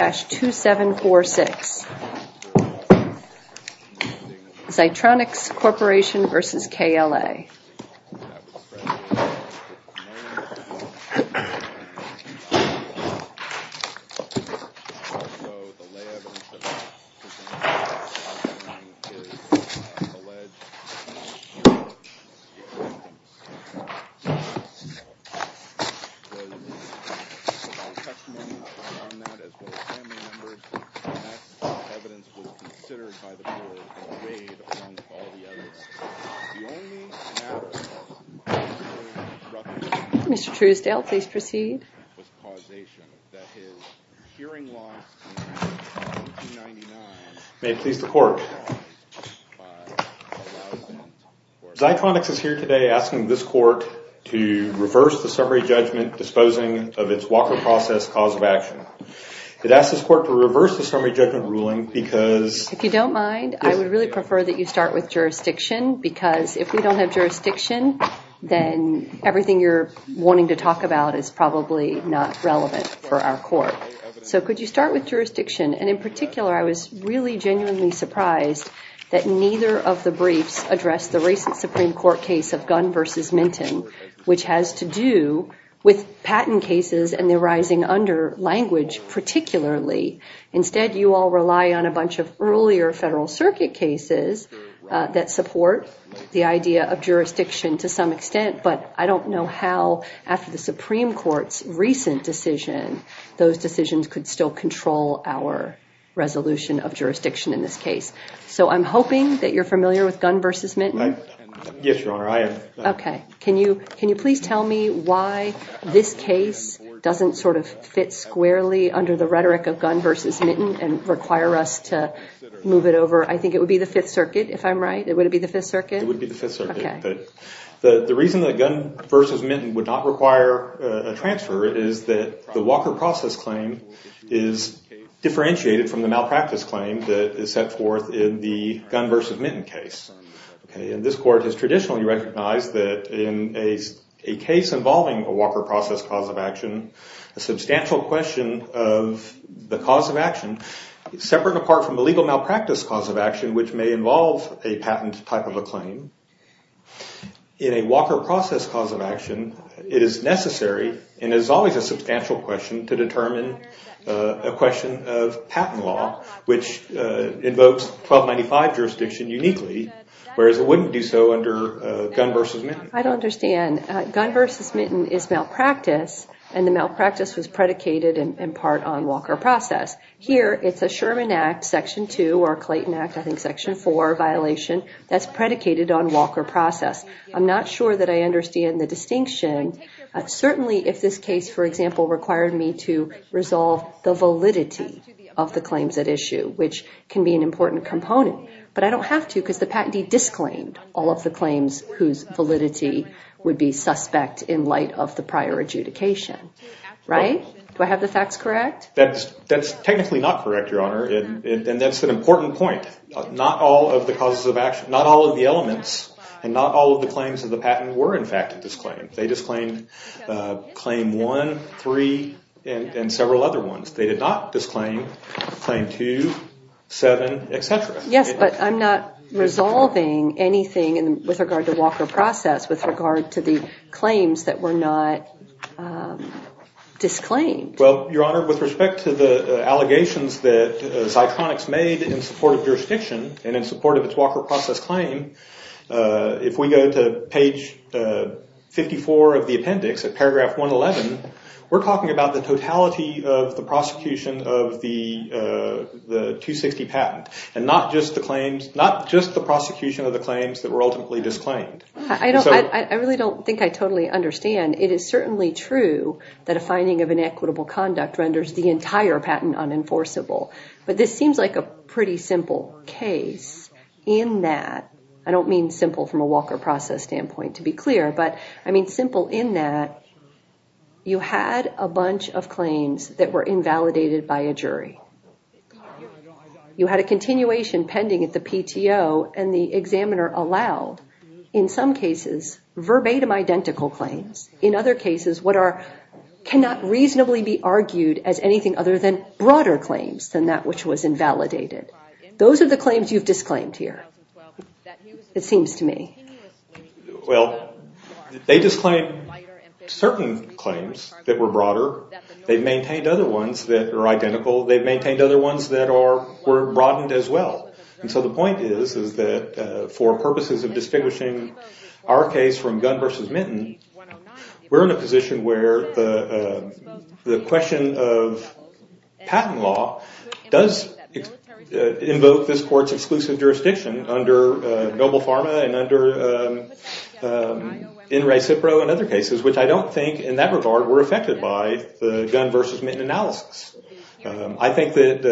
2746 Zitronix Corporation v. KLA Zitronix is here today asking this court to reverse the summary judgment disposing of its Walker process cause of action. If you don't mind, I would really prefer that you start with jurisdiction because if we don't have jurisdiction, then everything you're wanting to talk about is probably not relevant for our court. So could you start with jurisdiction? And in particular, I was really genuinely surprised that neither of the briefs addressed the recent Supreme Court case of Gunn v. Minton, which has to do with patent cases and the rising under language particularly. Instead, you all rely on a bunch of earlier Federal Circuit cases that support the idea of jurisdiction to some extent, but I don't know how after the Supreme Court's recent decision, those decisions could still control our resolution of jurisdiction in this case. So I'm hoping that you're familiar with Gunn v. Minton. Yes, Your Honor, I am. Okay. Can you please tell me why this case doesn't sort of fit squarely under the rhetoric of Gunn v. Minton and require us to move it over? I think it would be the Fifth Circuit if I'm right. Would it be the Fifth Circuit? It would be the Fifth Circuit. Okay. The reason that Gunn v. Minton would not require a transfer is that the Walker process claim is differentiated from the malpractice claim that is set forth in the Gunn v. Minton case. Okay. And this court has traditionally recognized that in a case involving a Walker process cause of action, a substantial question of the cause of action, separate apart from the legal malpractice cause of action, which may involve a patent type of a claim, in a Walker process cause of action, it is necessary and is always a substantial question to determine a question of patent law, which invokes 1295 jurisdiction uniquely, whereas it wouldn't do so under Gunn v. Minton. I don't understand. Gunn v. Minton is malpractice, and the malpractice was predicated in part on Walker process. Here, it's a Sherman Act Section 2 or Clayton Act, I think, Section 4 violation that's predicated on Walker process. I'm not sure that I understand the distinction. Certainly, if this case, for example, required me to resolve the validity of the claims at issue, which can be an important component, but I don't have to because the patentee disclaimed all of the claims whose validity would be suspect in light of the prior adjudication. Right? Do I have the facts correct? That's technically not correct, Your Honor, and that's an important point. Not all of the elements and not all of the claims of the patent were, in fact, disclaimed. They disclaimed claim 1, 3, and several other ones. They did not disclaim claim 2, 7, etc. Yes, but I'm not resolving anything with regard to Walker process with regard to the claims that were not disclaimed. Well, Your Honor, with respect to the allegations that Zitronics made in support of jurisdiction and in support of its Walker process claim, if we go to page 54 of the appendix at paragraph 111, we're talking about the totality of the prosecution of the 260 patent and not just the prosecution of the claims that were ultimately disclaimed. I really don't think I totally understand. It is certainly true that a finding of inequitable conduct renders the entire patent unenforceable, but this seems like a pretty simple case in that. I don't mean simple from a Walker process standpoint, to be clear, but I mean simple in that you had a bunch of claims that were invalidated by a jury. You had a continuation pending at the PTO and the examiner allowed, in some cases, verbatim identical claims. In other cases, what cannot reasonably be argued as anything other than broader claims than that which was invalidated. Those are the claims you've disclaimed here, it seems to me. Well, they disclaimed certain claims that were broader. They've maintained other ones that are identical. They've maintained other ones that were broadened as well. The point is that for purposes of distinguishing our case from Gunn v. Minton, we're in a position where the question of patent law does invoke this court's exclusive jurisdiction under Noble Pharma and under In Re Cipro and other cases, which I don't think, in that regard, were affected by the Gunn v. Minton analysis. I think that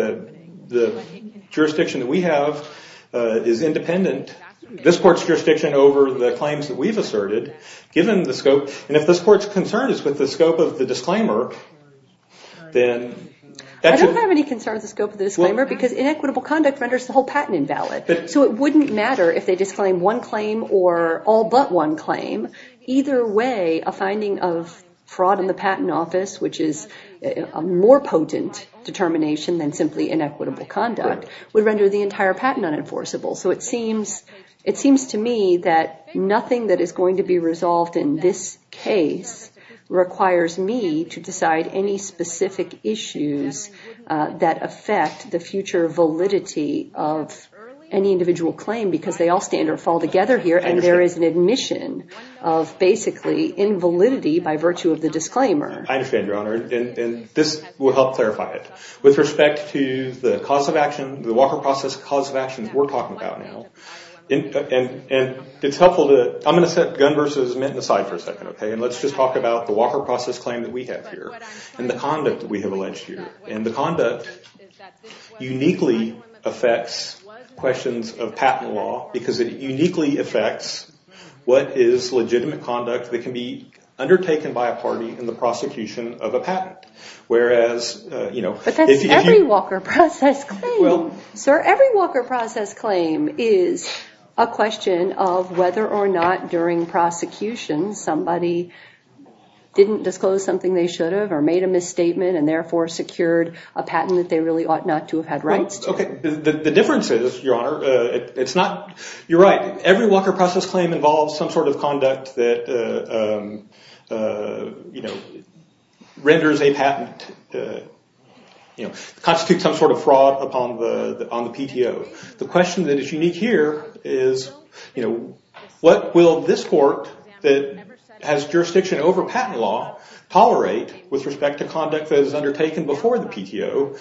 the jurisdiction that we have is independent. This court's jurisdiction over the claims that we've asserted, given the scope, and if this court's concern is with the scope of the disclaimer, then that should... I don't have any concern with the scope of the disclaimer because inequitable conduct renders the whole patent invalid. So it wouldn't matter if they disclaim one claim or all but one claim. Either way, a finding of fraud in the patent office, which is a more potent determination than simply inequitable conduct, would render the entire patent unenforceable. So it seems to me that nothing that is going to be resolved in this case requires me to decide any specific issues that affect the future validity of any individual claim because they all stand or fall together here and there is an admission of basically invalidity by virtue of the disclaimer. I understand, Your Honor, and this will help clarify it. With respect to the Walker process cause of action that we're talking about now, it's helpful to... I'm going to set Gunn v. Minton aside for a second. Let's just talk about the Walker process claim that we have here and the conduct that we have alleged here. The conduct uniquely affects questions of patent law because it uniquely affects what is legitimate conduct that can be undertaken by a party in the prosecution of a patent. But that's every Walker process claim. Sir, every Walker process claim is a question of whether or not during prosecution somebody didn't disclose something they should have or made a misstatement and therefore secured a patent that they really ought not to have had rights to. Okay. The difference is, Your Honor, it's not... You're right. Every Walker process claim involves some sort of conduct that renders a patent, constitutes some sort of fraud on the PTO. The question that is unique here is what will this court that has jurisdiction over patent law tolerate with respect to conduct that is undertaken before the PTO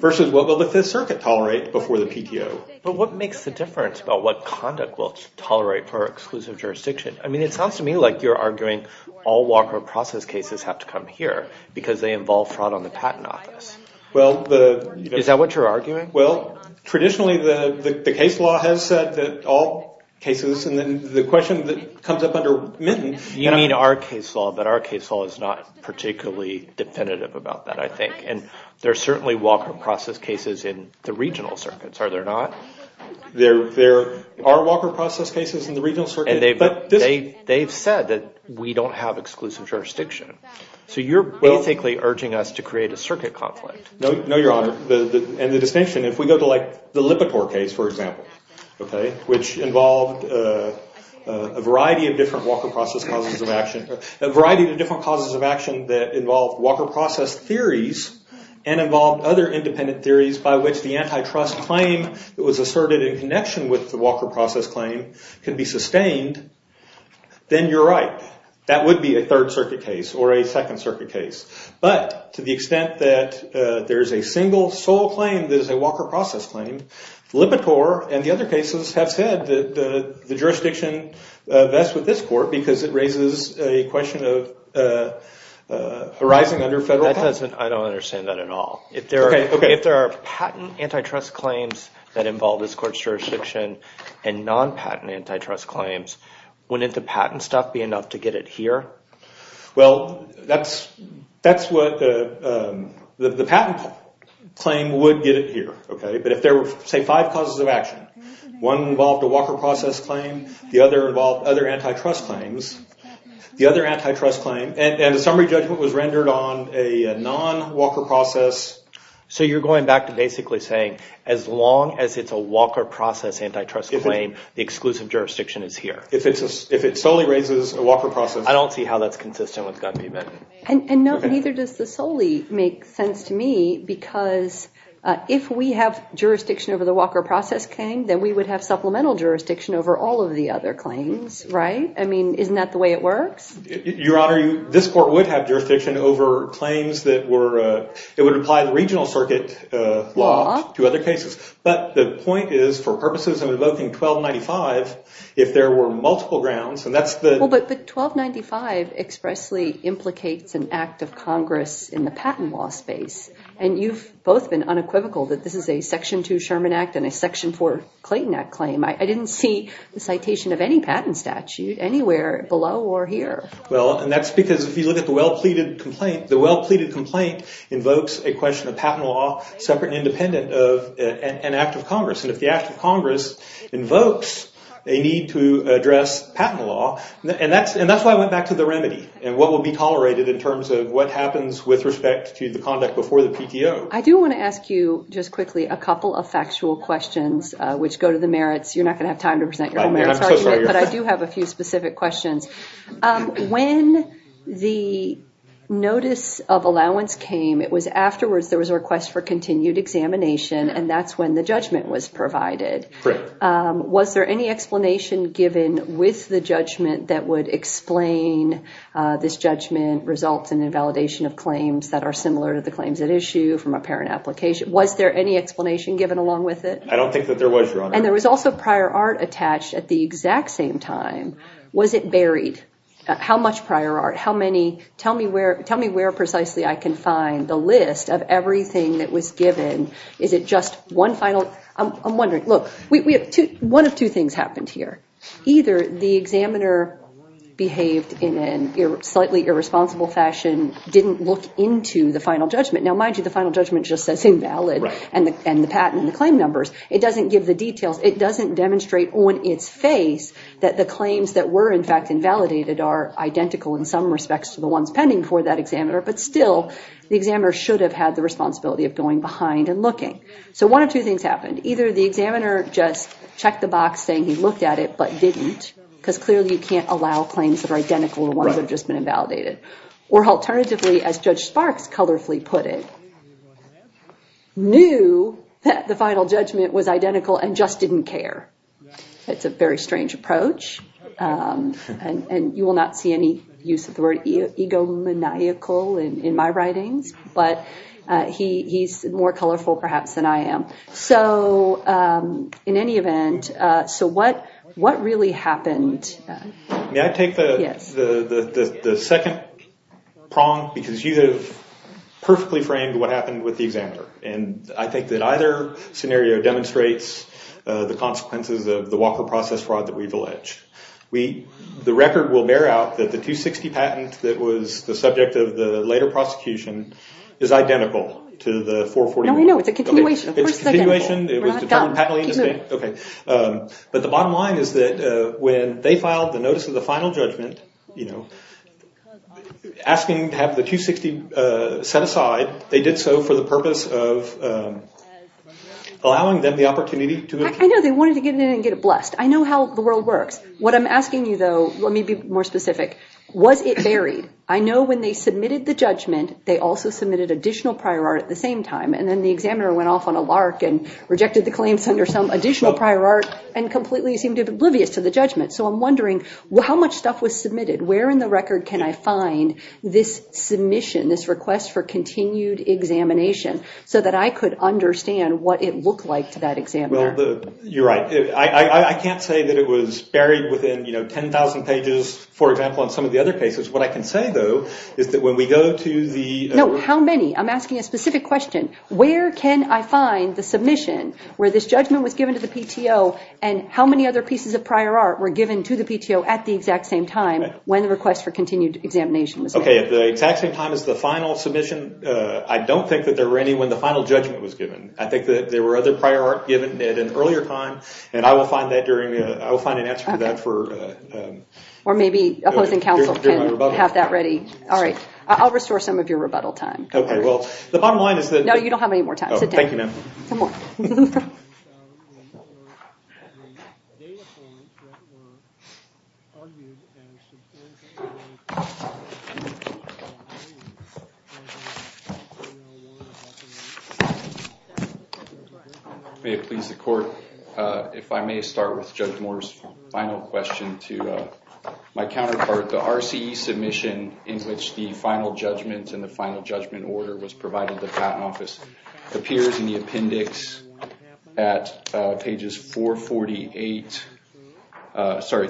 versus what will the Fifth Circuit tolerate before the PTO? But what makes the difference about what conduct will it tolerate for exclusive jurisdiction? I mean, it sounds to me like you're arguing all Walker process cases have to come here because they involve fraud on the patent office. Well, the... Is that what you're arguing? Well, traditionally, the case law has said that all cases, and then the question that comes up under Minton... You mean our case law, but our case law is not particularly definitive about that, I think. And there are certainly Walker process cases in the regional circuits, are there not? There are Walker process cases in the regional circuit, but this... And they've said that we don't have exclusive jurisdiction. So you're basically urging us to create a circuit conflict. No, Your Honor. And the distinction, if we go to like the Lipitor case, for example, which involved a variety of different Walker process causes of action... A variety of different causes of action that involved Walker process theories and involved other independent theories by which the antitrust claim that was asserted in connection with the Walker process claim can be sustained, then you're right. That would be a Third Circuit case or a Second Circuit case. But to the extent that there's a single sole claim that is a Walker process claim, Lipitor and the other cases have said that the jurisdiction vests with this court because it raises a question of arising under federal... That doesn't... I don't understand that at all. Okay, okay. If there are patent antitrust claims that involve this court's jurisdiction and non-patent antitrust claims, wouldn't the patent stuff be enough to get it here? Well, that's what the patent claim would get it here, okay? But if there were, say, five causes of action, one involved a Walker process claim, the other involved other antitrust claims, the other antitrust claim... And the summary judgment was rendered on a non-Walker process... So you're going back to basically saying as long as it's a Walker process antitrust claim, the exclusive jurisdiction is here. If it solely raises a Walker process... I don't see how that's consistent with gun movement. And no, neither does the solely make sense to me because if we have jurisdiction over the Walker process claim, then we would have supplemental jurisdiction over all of the other claims, right? I mean, isn't that the way it works? Your Honor, this court would have jurisdiction over claims that were... It would apply the regional circuit law to other cases. But the point is, for purposes of invoking 1295, if there were multiple grounds, and that's the... Well, but 1295 expressly implicates an act of Congress in the patent law space. And you've both been unequivocal that this is a Section 2 Sherman Act and a Section 4 Clayton Act claim. I didn't see the citation of any patent statute anywhere below or here. Well, and that's because if you look at the well-pleaded complaint, the well-pleaded complaint invokes a question of patent law separate and independent of an act of Congress. And if the act of Congress invokes a need to address patent law, and that's why I went back to the remedy and what will be tolerated in terms of what happens with respect to the conduct before the PTO. I do want to ask you, just quickly, a couple of factual questions, which go to the merits. You're not going to have time to present your own merits argument, but I do have a few specific questions. When the notice of allowance came, it was afterwards there was a request for continued examination, and that's when the judgment was provided. Correct. Was there any explanation given with the judgment that would explain this judgment results in invalidation of claims that are similar to the claims at issue from a parent application? Was there any explanation given along with it? I don't think that there was, Your Honor. And there was also prior art attached at the exact same time. Was it buried? How much prior art? How many? Tell me where precisely I can find the list of everything that was given. Is it just one final? I'm wondering. Look, one of two things happened here. Either the examiner behaved in a slightly irresponsible fashion, didn't look into the final judgment. Now, mind you, the final judgment just says invalid and the patent and the claim numbers. It doesn't give the details. It doesn't demonstrate on its face that the claims that were, in fact, invalidated are identical in some respects to the ones pending for that examiner. But still, the examiner should have had the responsibility of going behind and looking. So one of two things happened. Either the examiner just checked the box saying he looked at it but didn't, because clearly you can't allow claims that are identical to ones that have just been invalidated. Or alternatively, as Judge Sparks colorfully put it, knew that the final judgment was identical and just didn't care. It's a very strange approach. And you will not see any use of the word egomaniacal in my writings. But he's more colorful, perhaps, than I am. So in any event, so what really happened? May I take the second prong? Because you have perfectly framed what happened with the examiner. And I think that either scenario demonstrates the consequences of the Walker process fraud that we've alleged. The record will bear out that the 260 patent that was the subject of the later prosecution is identical to the 440. No, we know. It's a continuation. It's a continuation. We're not done. Keep moving. But the bottom line is that when they filed the notice of the final judgment, you know, asking to have the 260 set aside, they did so for the purpose of allowing them the opportunity to- I know. They wanted to get in and get it blessed. I know how the world works. What I'm asking you, though, let me be more specific, was it buried? I know when they submitted the judgment, they also submitted additional prior art at the same time. And then the examiner went off on a lark and rejected the claims under some additional prior art and completely seemed oblivious to the judgment. So I'm wondering, how much stuff was submitted? Where in the record can I find this submission, this request for continued examination, so that I could understand what it looked like to that examiner? Well, you're right. I can't say that it was buried within, you know, 10,000 pages, for example, on some of the other cases. What I can say, though, is that when we go to the- No, how many? I'm asking a specific question. Where can I find the submission where this judgment was given to the PTO and how many other pieces of prior art were given to the PTO at the exact same time when the request for continued examination was made? Okay, at the exact same time as the final submission? I don't think that there were any when the final judgment was given. I think that there were other prior art given at an earlier time, and I will find that during- I will find an answer to that for- Or maybe opposing counsel can have that ready. All right. I'll restore some of your rebuttal time. Okay, well, the bottom line is that- No, you don't have any more time. Sit down. Thank you, ma'am. Some more. May it please the Court, if I may start with Judge Moore's final question to my counterpart. The RCE submission in which the final judgment and the final judgment order was provided to the Patent Office appears in the appendix at pages 448- sorry,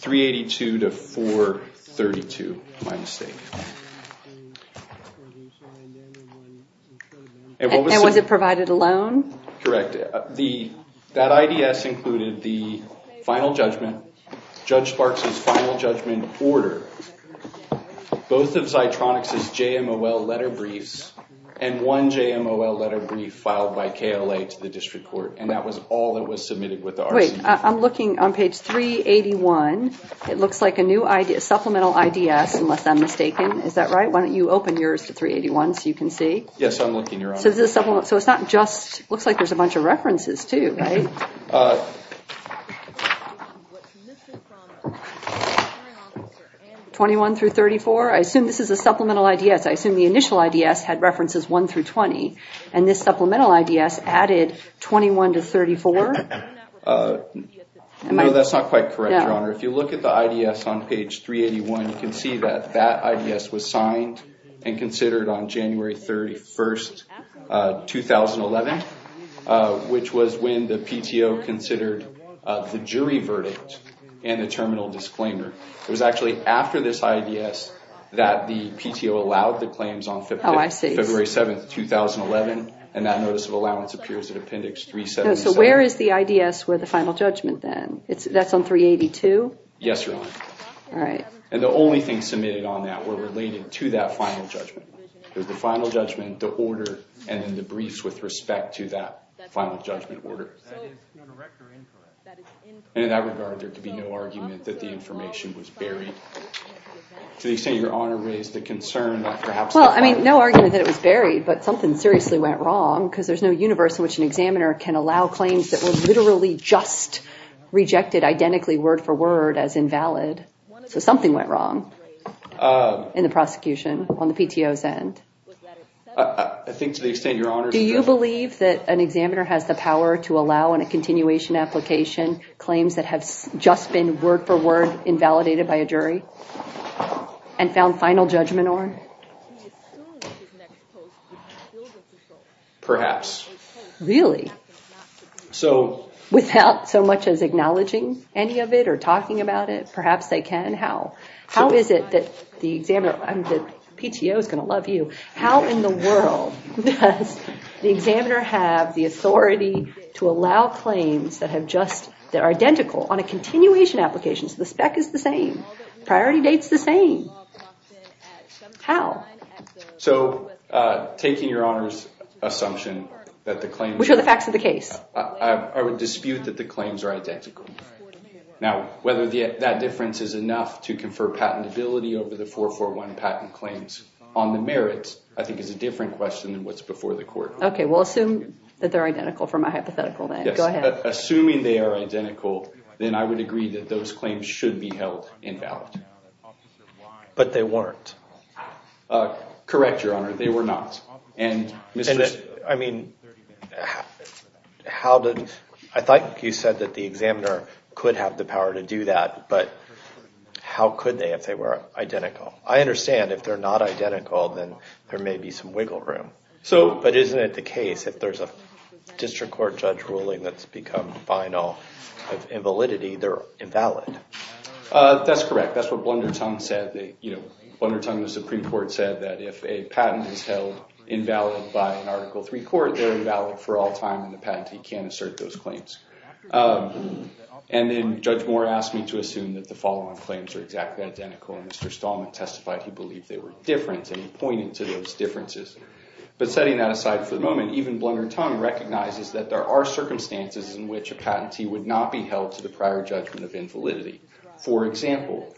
382 to 432, if I'm not mistaken. And was it provided alone? Correct. That IDS included the final judgment, Judge Sparks' final judgment order, both of Zitronix's JMOL letter briefs, and one JMOL letter brief filed by KLA to the district court, and that was all that was submitted with the RCE. Wait, I'm looking on page 381. It looks like a new supplemental IDS, unless I'm mistaken. Is that right? Why don't you open yours to 381 so you can see? Yes, I'm looking. So it's not just- looks like there's a bunch of references too, right? 21 through 34? I assume this is a supplemental IDS. I assume the initial IDS had references 1 through 20, and this supplemental IDS added 21 to 34? No, that's not quite correct, Your Honor. If you look at the IDS on page 381, you can see that that IDS was signed and considered on January 31, 2011, which was when the PTO considered the jury verdict and the terminal disclaimer. It was actually after this IDS that the PTO allowed the claims on February 7, 2011, and that notice of allowance appears in Appendix 377. So where is the IDS with the final judgment then? That's on 382? Yes, Your Honor. All right. And the only things submitted on that were related to that final judgment. There's the final judgment, the order, and then the briefs with respect to that final judgment order. And in that regard, there could be no argument that the information was buried. To the extent Your Honor raised the concern that perhaps- Well, I mean, no argument that it was buried, but something seriously went wrong because there's no universe in which an examiner can allow claims that were literally just rejected identically word for word as invalid. So something went wrong in the prosecution on the PTO's end. I think to the extent Your Honor- Do you believe that an examiner has the power to allow in a continuation application claims that have just been word for word invalidated by a jury and found final judgment on? Perhaps. Really? So- Without so much as acknowledging any of it or talking about it? Perhaps they can? How is it that the examiner- I mean, the PTO's going to love you. How in the world does the examiner have the authority to allow claims that are identical on a continuation application? So the spec is the same. Priority date's the same. How? So, taking Your Honor's assumption that the claims- Which are the facts of the case? I would dispute that the claims are identical. Now, whether that difference is enough to confer patentability over the 441 patent claims on the merits, I think is a different question than what's before the court. Okay, we'll assume that they're identical from a hypothetical then. Go ahead. Assuming they are identical, then I would agree that those claims should be held invalid. But they weren't. Correct, Your Honor, they were not. And Mr.- I mean, how did- I thought you said that the examiner could have the power to do that, but how could they if they were identical? I understand if they're not identical, then there may be some wiggle room. So- But isn't it the case if there's a district court judge ruling that's become final of invalidity, they're invalid? That's correct. That's what Blundertung said. Blundertung and the Supreme Court said that if a patent is held invalid by an Article III court, they're invalid for all time and the patentee can't assert those claims. And then Judge Moore asked me to assume that the follow-on claims are exactly identical, and Mr. Stallman testified he believed they were different and he pointed to those differences. But setting that aside for the moment, even Blundertung recognizes that there are circumstances in which a patentee would not be held to the prior judgment of invalidity. For example,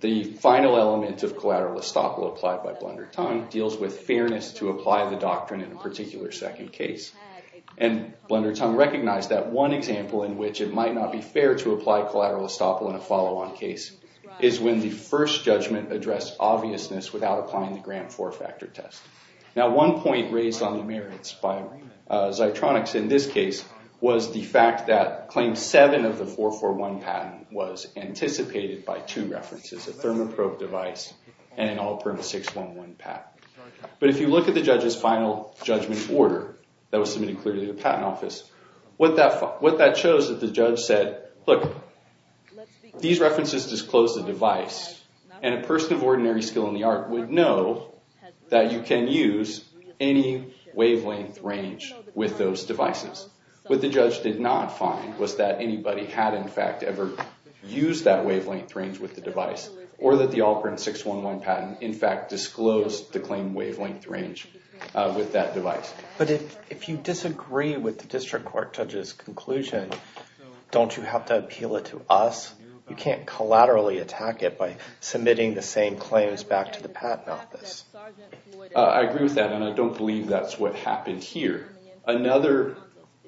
the final element of collateral estoppel applied by Blundertung deals with fairness to apply the doctrine in a particular second case. And Blundertung recognized that one example in which it might not be fair to apply collateral estoppel in a follow-on case is when the first judgment addressed obviousness without applying the grant four-factor test. Now, one point raised on the merits by Zitronix in this case was the fact that Claim 7 of the 441 patent was anticipated by two references, a thermoprobe device and an all-premise 611 patent. But if you look at the judge's final judgment order that was submitted clearly to the patent office, what that shows is that the judge said, look, these references disclose the device and a person of ordinary skill in the art would know that you can use any wavelength range with those devices. What the judge did not find was that anybody had in fact ever used that wavelength range with the device or that the all-premise 611 patent in fact disclosed the claim wavelength range with that device. But if you disagree with the district court judge's conclusion, don't you have to appeal it to us? You can't collaterally attack it by submitting the same claims back to the patent office. I agree with that, and I don't believe that's what happened here. Another,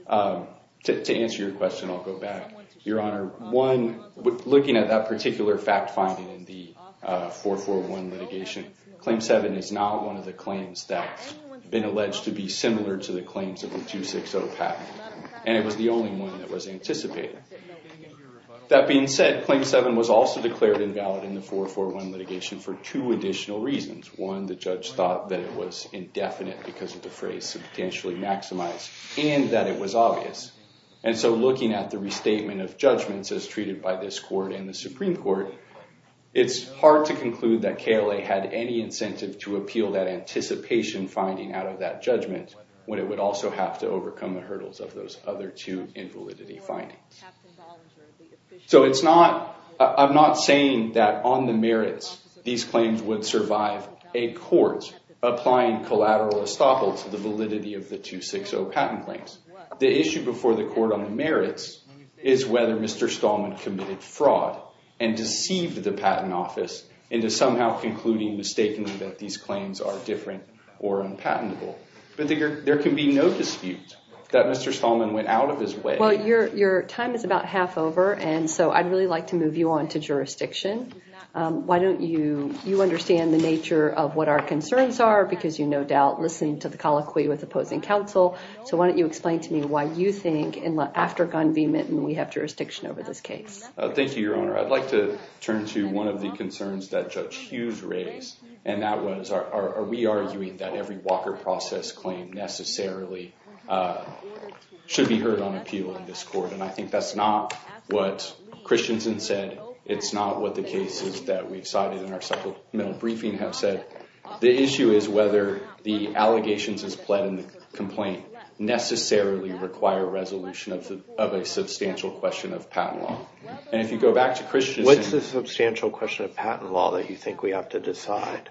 to answer your question, I'll go back, Your Honor, one, looking at that particular fact finding in the 441 litigation, Claim 7 is not one of the claims that's been alleged to be similar to the claims of the 260 patent, and it was the only one that was anticipated. That being said, Claim 7 was also declared invalid in the 441 litigation for two additional reasons. One, the judge thought that it was indefinite because of the phrase substantially maximized and that it was obvious. And so looking at the restatement of judgments as treated by this court and the Supreme Court, it's hard to conclude that KLA had any incentive to appeal that anticipation finding out of that judgment when it would also have to overcome the hurdles of those other two invalidity findings. So I'm not saying that on the merits these claims would survive a court applying collateral estoppel to the validity of the 260 patent claims. The issue before the court on the merits is whether Mr. Stallman committed fraud and deceived the patent office into somehow concluding mistakenly that these claims are different or unpatentable. But there can be no dispute that Mr. Stallman went out of his way. Well, your time is about half over, and so I'd really like to move you on to jurisdiction. Why don't you understand the nature of what our concerns are, because you no doubt listened to the colloquy with opposing counsel. So why don't you explain to me why you think, after Gun v. Minton, we have jurisdiction over this case? Thank you, Your Honor. I'd like to turn to one of the concerns that Judge Hughes raised, and that was, are we arguing that every Walker process claim necessarily should be heard on appeal in this court? And I think that's not what Christensen said. It's not what the cases that we've cited in our supplemental briefing have said. The issue is whether the allegations as pled in the complaint necessarily require resolution of a substantial question of patent law. What's the substantial question of patent law that you think we have to decide?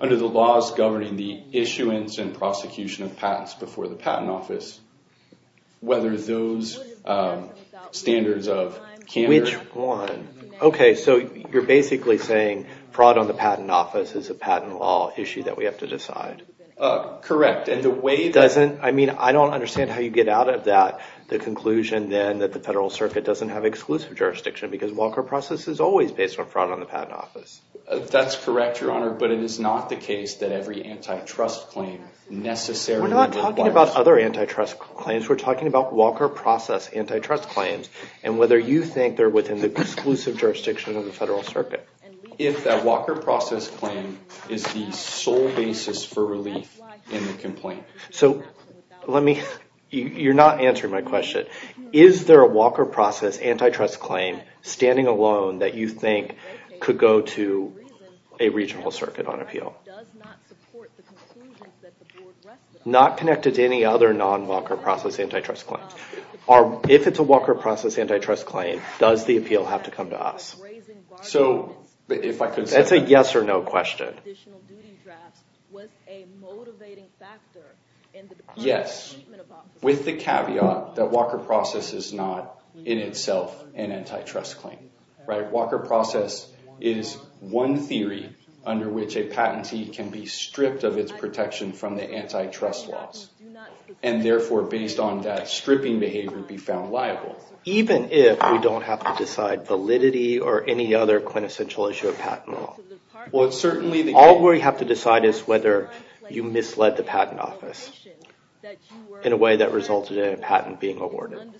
Under the laws governing the issuance and prosecution of patents before the patent office, whether those standards of candor— Which one? Okay, so you're basically saying fraud on the patent office is a patent law issue that we have to decide. Correct, and the way that— So you're making the conclusion then that the federal circuit doesn't have exclusive jurisdiction because Walker process is always based on fraud on the patent office. That's correct, Your Honor, but it is not the case that every antitrust claim necessarily requires— We're not talking about other antitrust claims. We're talking about Walker process antitrust claims and whether you think they're within the exclusive jurisdiction of the federal circuit. If that Walker process claim is the sole basis for relief in the complaint. So let me—you're not answering my question. Is there a Walker process antitrust claim standing alone that you think could go to a regional circuit on appeal? Not connected to any other non-Walker process antitrust claims. If it's a Walker process antitrust claim, does the appeal have to come to us? So if I could say— That's a yes or no question. Yes, with the caveat that Walker process is not in itself an antitrust claim, right? Walker process is one theory under which a patentee can be stripped of its protection from the antitrust laws and therefore based on that stripping behavior be found liable. Even if we don't have to decide validity or any other quintessential issue of patent law? Well, it's certainly— What you have to decide is whether you misled the patent office in a way that resulted in a patent being awarded.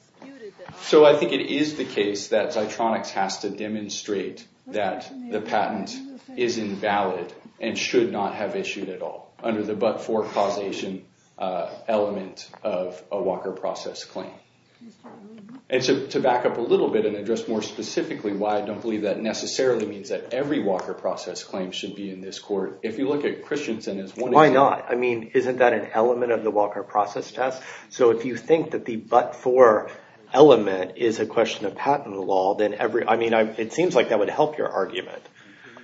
So I think it is the case that Zitronix has to demonstrate that the patent is invalid and should not have issued at all under the but-for causation element of a Walker process claim. And to back up a little bit and address more specifically why I don't believe that necessarily means that every Walker process claim should be in this court, if you look at Christensen as one— Why not? I mean, isn't that an element of the Walker process test? So if you think that the but-for element is a question of patent law, then every— I mean, it seems like that would help your argument.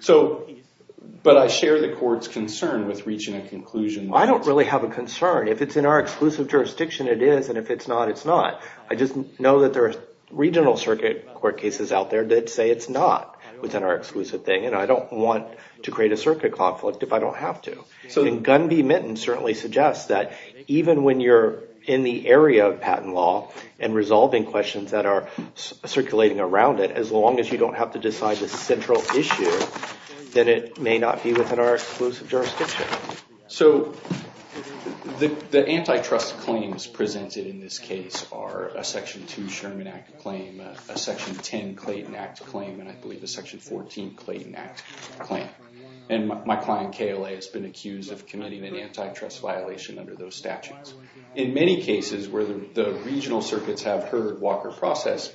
So—but I share the court's concern with reaching a conclusion— I don't really have a concern. If it's in our exclusive jurisdiction, it is. And if it's not, it's not. I just know that there are regional circuit court cases out there that say it's not within our exclusive thing, and I don't want to create a circuit conflict if I don't have to. And Gunby-Mitton certainly suggests that even when you're in the area of patent law and resolving questions that are circulating around it, as long as you don't have to decide the central issue, then it may not be within our exclusive jurisdiction. So the antitrust claims presented in this case are a Section 2 Sherman Act claim, a Section 10 Clayton Act claim, and I believe a Section 14 Clayton Act claim. And my client, KLA, has been accused of committing an antitrust violation under those statutes. In many cases where the regional circuits have heard Walker process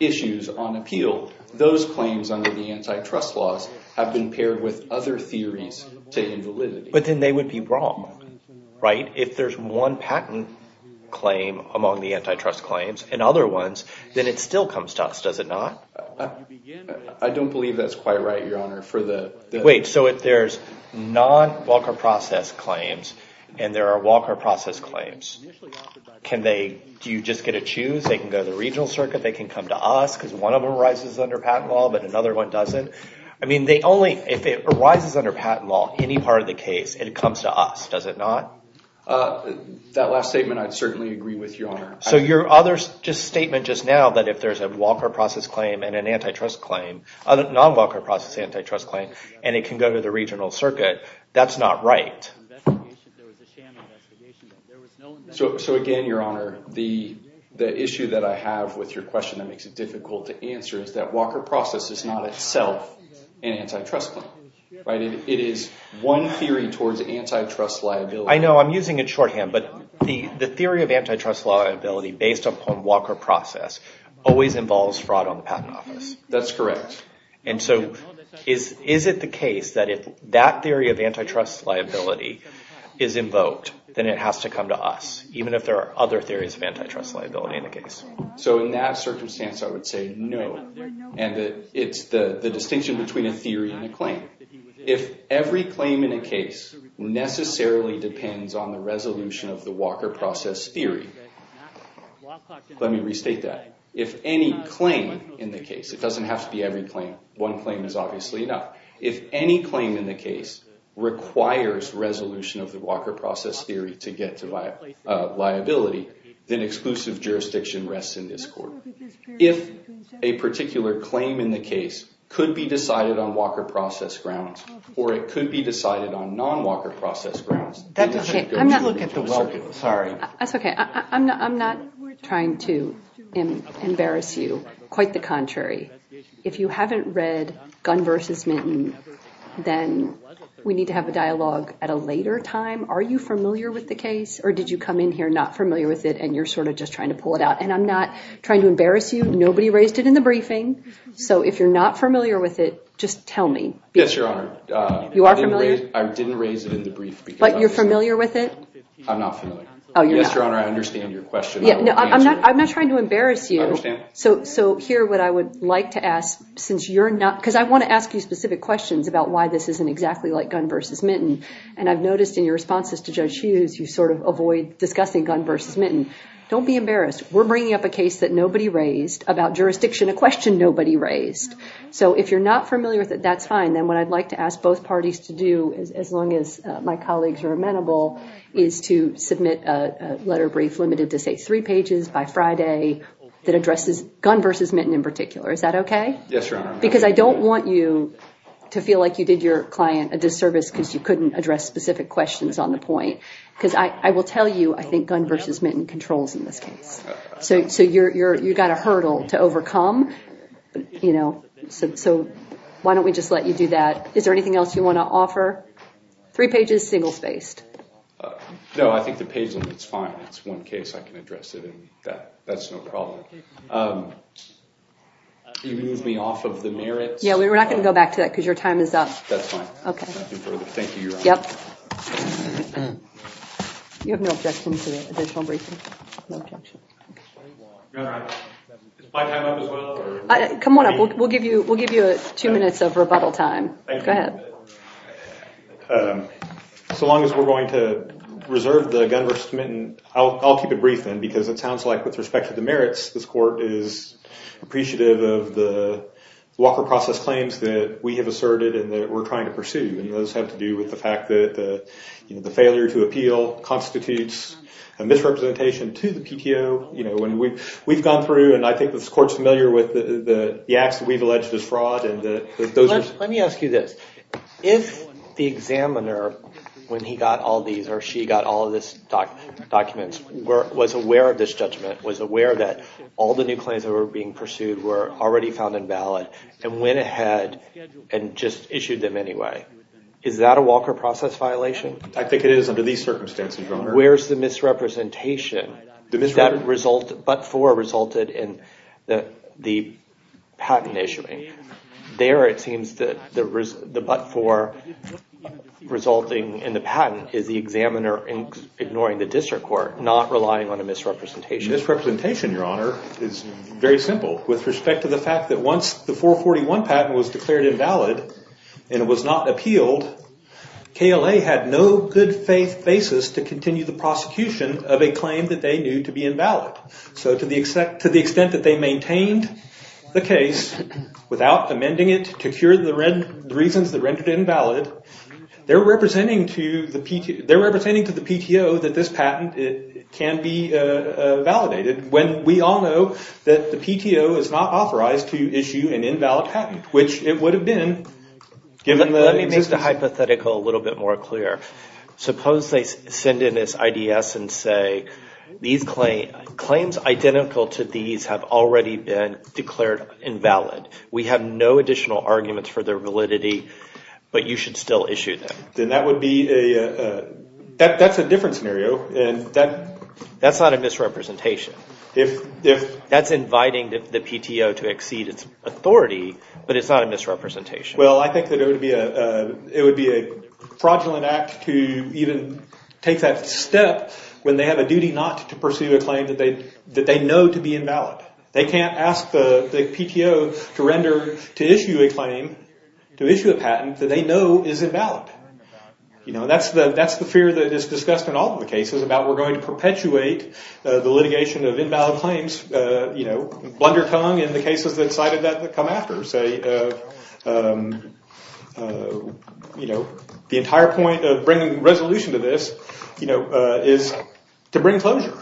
issues on appeal, those claims under the antitrust laws have been paired with other theories to invalidity. But then they would be wrong, right? If there's one patent claim among the antitrust claims and other ones, then it still comes to us, does it not? I don't believe that's quite right, Your Honor. Wait, so if there's non-Walker process claims and there are Walker process claims, can they—do you just get to choose? They can go to the regional circuit. They can come to us because one of them arises under patent law, but another one doesn't. I mean, they only—if it arises under patent law, any part of the case, it comes to us, does it not? That last statement, I'd certainly agree with, Your Honor. So your other statement just now that if there's a Walker process claim and an antitrust claim, a non-Walker process antitrust claim, and it can go to the regional circuit, that's not right. So again, Your Honor, the issue that I have with your question that makes it difficult to answer is that Walker process is not itself an antitrust claim, right? It is one theory towards antitrust liability. I know I'm using it shorthand, but the theory of antitrust liability based upon Walker process always involves fraud on the patent office. That's correct. And so is it the case that if that theory of antitrust liability is invoked, then it has to come to us, even if there are other theories of antitrust liability in the case? So in that circumstance, I would say no. And it's the distinction between a theory and a claim. If every claim in a case necessarily depends on the resolution of the Walker process theory—let me restate that. If any claim in the case—it doesn't have to be every claim, one claim is obviously enough— if any claim in the case requires resolution of the Walker process theory to get to liability, then exclusive jurisdiction rests in this court. If a particular claim in the case could be decided on Walker process grounds, or it could be decided on non-Walker process grounds— That doesn't go to the regional circuit. I'm not trying to embarrass you. Quite the contrary. If you haven't read Gunn v. Minton, then we need to have a dialogue at a later time. Are you familiar with the case? Or did you come in here not familiar with it, and you're sort of just trying to pull it out? And I'm not trying to embarrass you. Nobody raised it in the briefing. So if you're not familiar with it, just tell me. Yes, Your Honor. You are familiar? I didn't raise it in the brief. But you're familiar with it? I'm not familiar. Yes, Your Honor, I understand your question. I'm not trying to embarrass you. I understand. So here, what I would like to ask, since you're not— because I want to ask you specific questions about why this isn't exactly like Gunn v. Minton. And I've noticed in your responses to Judge Hughes, you sort of avoid discussing Gunn v. Minton. Don't be embarrassed. We're bringing up a case that nobody raised about jurisdiction, a question nobody raised. So if you're not familiar with it, that's fine. And then what I'd like to ask both parties to do, as long as my colleagues are amenable, is to submit a letter of brief limited to, say, three pages by Friday that addresses Gunn v. Minton in particular. Is that okay? Yes, Your Honor. Because I don't want you to feel like you did your client a disservice because you couldn't address specific questions on the point. Because I will tell you, I think Gunn v. Minton controls in this case. So you've got a hurdle to overcome. So why don't we just let you do that? Is there anything else you want to offer? Three pages, single-spaced. No, I think the page limit's fine. It's one case I can address it in that. That's no problem. Can you move me off of the merits? Yeah, we're not going to go back to that because your time is up. That's fine. Okay. Thank you, Your Honor. Yep. You have no objection to additional briefing? No objection. Your Honor, is my time up as well? Come on up. We'll give you two minutes of rebuttal time. Go ahead. So long as we're going to reserve the Gunn v. Minton, I'll keep it brief then because it sounds like with respect to the merits, this court is appreciative of the Walker process claims that we have asserted and that we're trying to pursue. And those have to do with the fact that the failure to appeal constitutes a misrepresentation to the PTO. You know, we've gone through, and I think this court's familiar with the acts that we've alleged as fraud. Let me ask you this. If the examiner, when he got all these or she got all of these documents, was aware of this judgment, was aware that all the new claims that were being pursued were already found invalid and went ahead and just issued them anyway, I think it is under these circumstances, Your Honor. Where's the misrepresentation? That but-for resulted in the patent issuing. There it seems that the but-for resulting in the patent is the examiner ignoring the district court, not relying on a misrepresentation. Misrepresentation, Your Honor, is very simple. With respect to the fact that once the 441 patent was declared invalid and it was not appealed, KLA had no good faith basis to continue the prosecution of a claim that they knew to be invalid. So to the extent that they maintained the case without amending it to cure the reasons that rendered it invalid, they're representing to the PTO that this patent can be validated when we all know that the PTO is not authorized to issue an invalid patent, which it would have been. Let me make the hypothetical a little bit more clear. Suppose they send in this IDS and say, claims identical to these have already been declared invalid. We have no additional arguments for their validity, but you should still issue them. Then that would be a-that's a different scenario. That's not a misrepresentation. That's inviting the PTO to exceed its authority, but it's not a misrepresentation. Well, I think that it would be a fraudulent act to even take that step when they have a duty not to pursue a claim that they know to be invalid. They can't ask the PTO to issue a claim, to issue a patent, that they know is invalid. That's the fear that is discussed in all the cases about we're going to perpetuate the litigation of invalid claims, blunder tongue in the cases that cited that come after. The entire point of bringing resolution to this is to bring closure.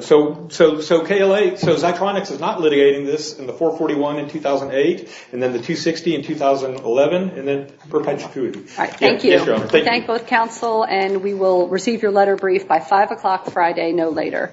So KLA, so Zitronix is not litigating this in the 441 in 2008, and then the 260 in 2011, and then perpetuity. Thank you. Thank both counsel, and we will receive your letter brief by 5 o'clock Friday, no later.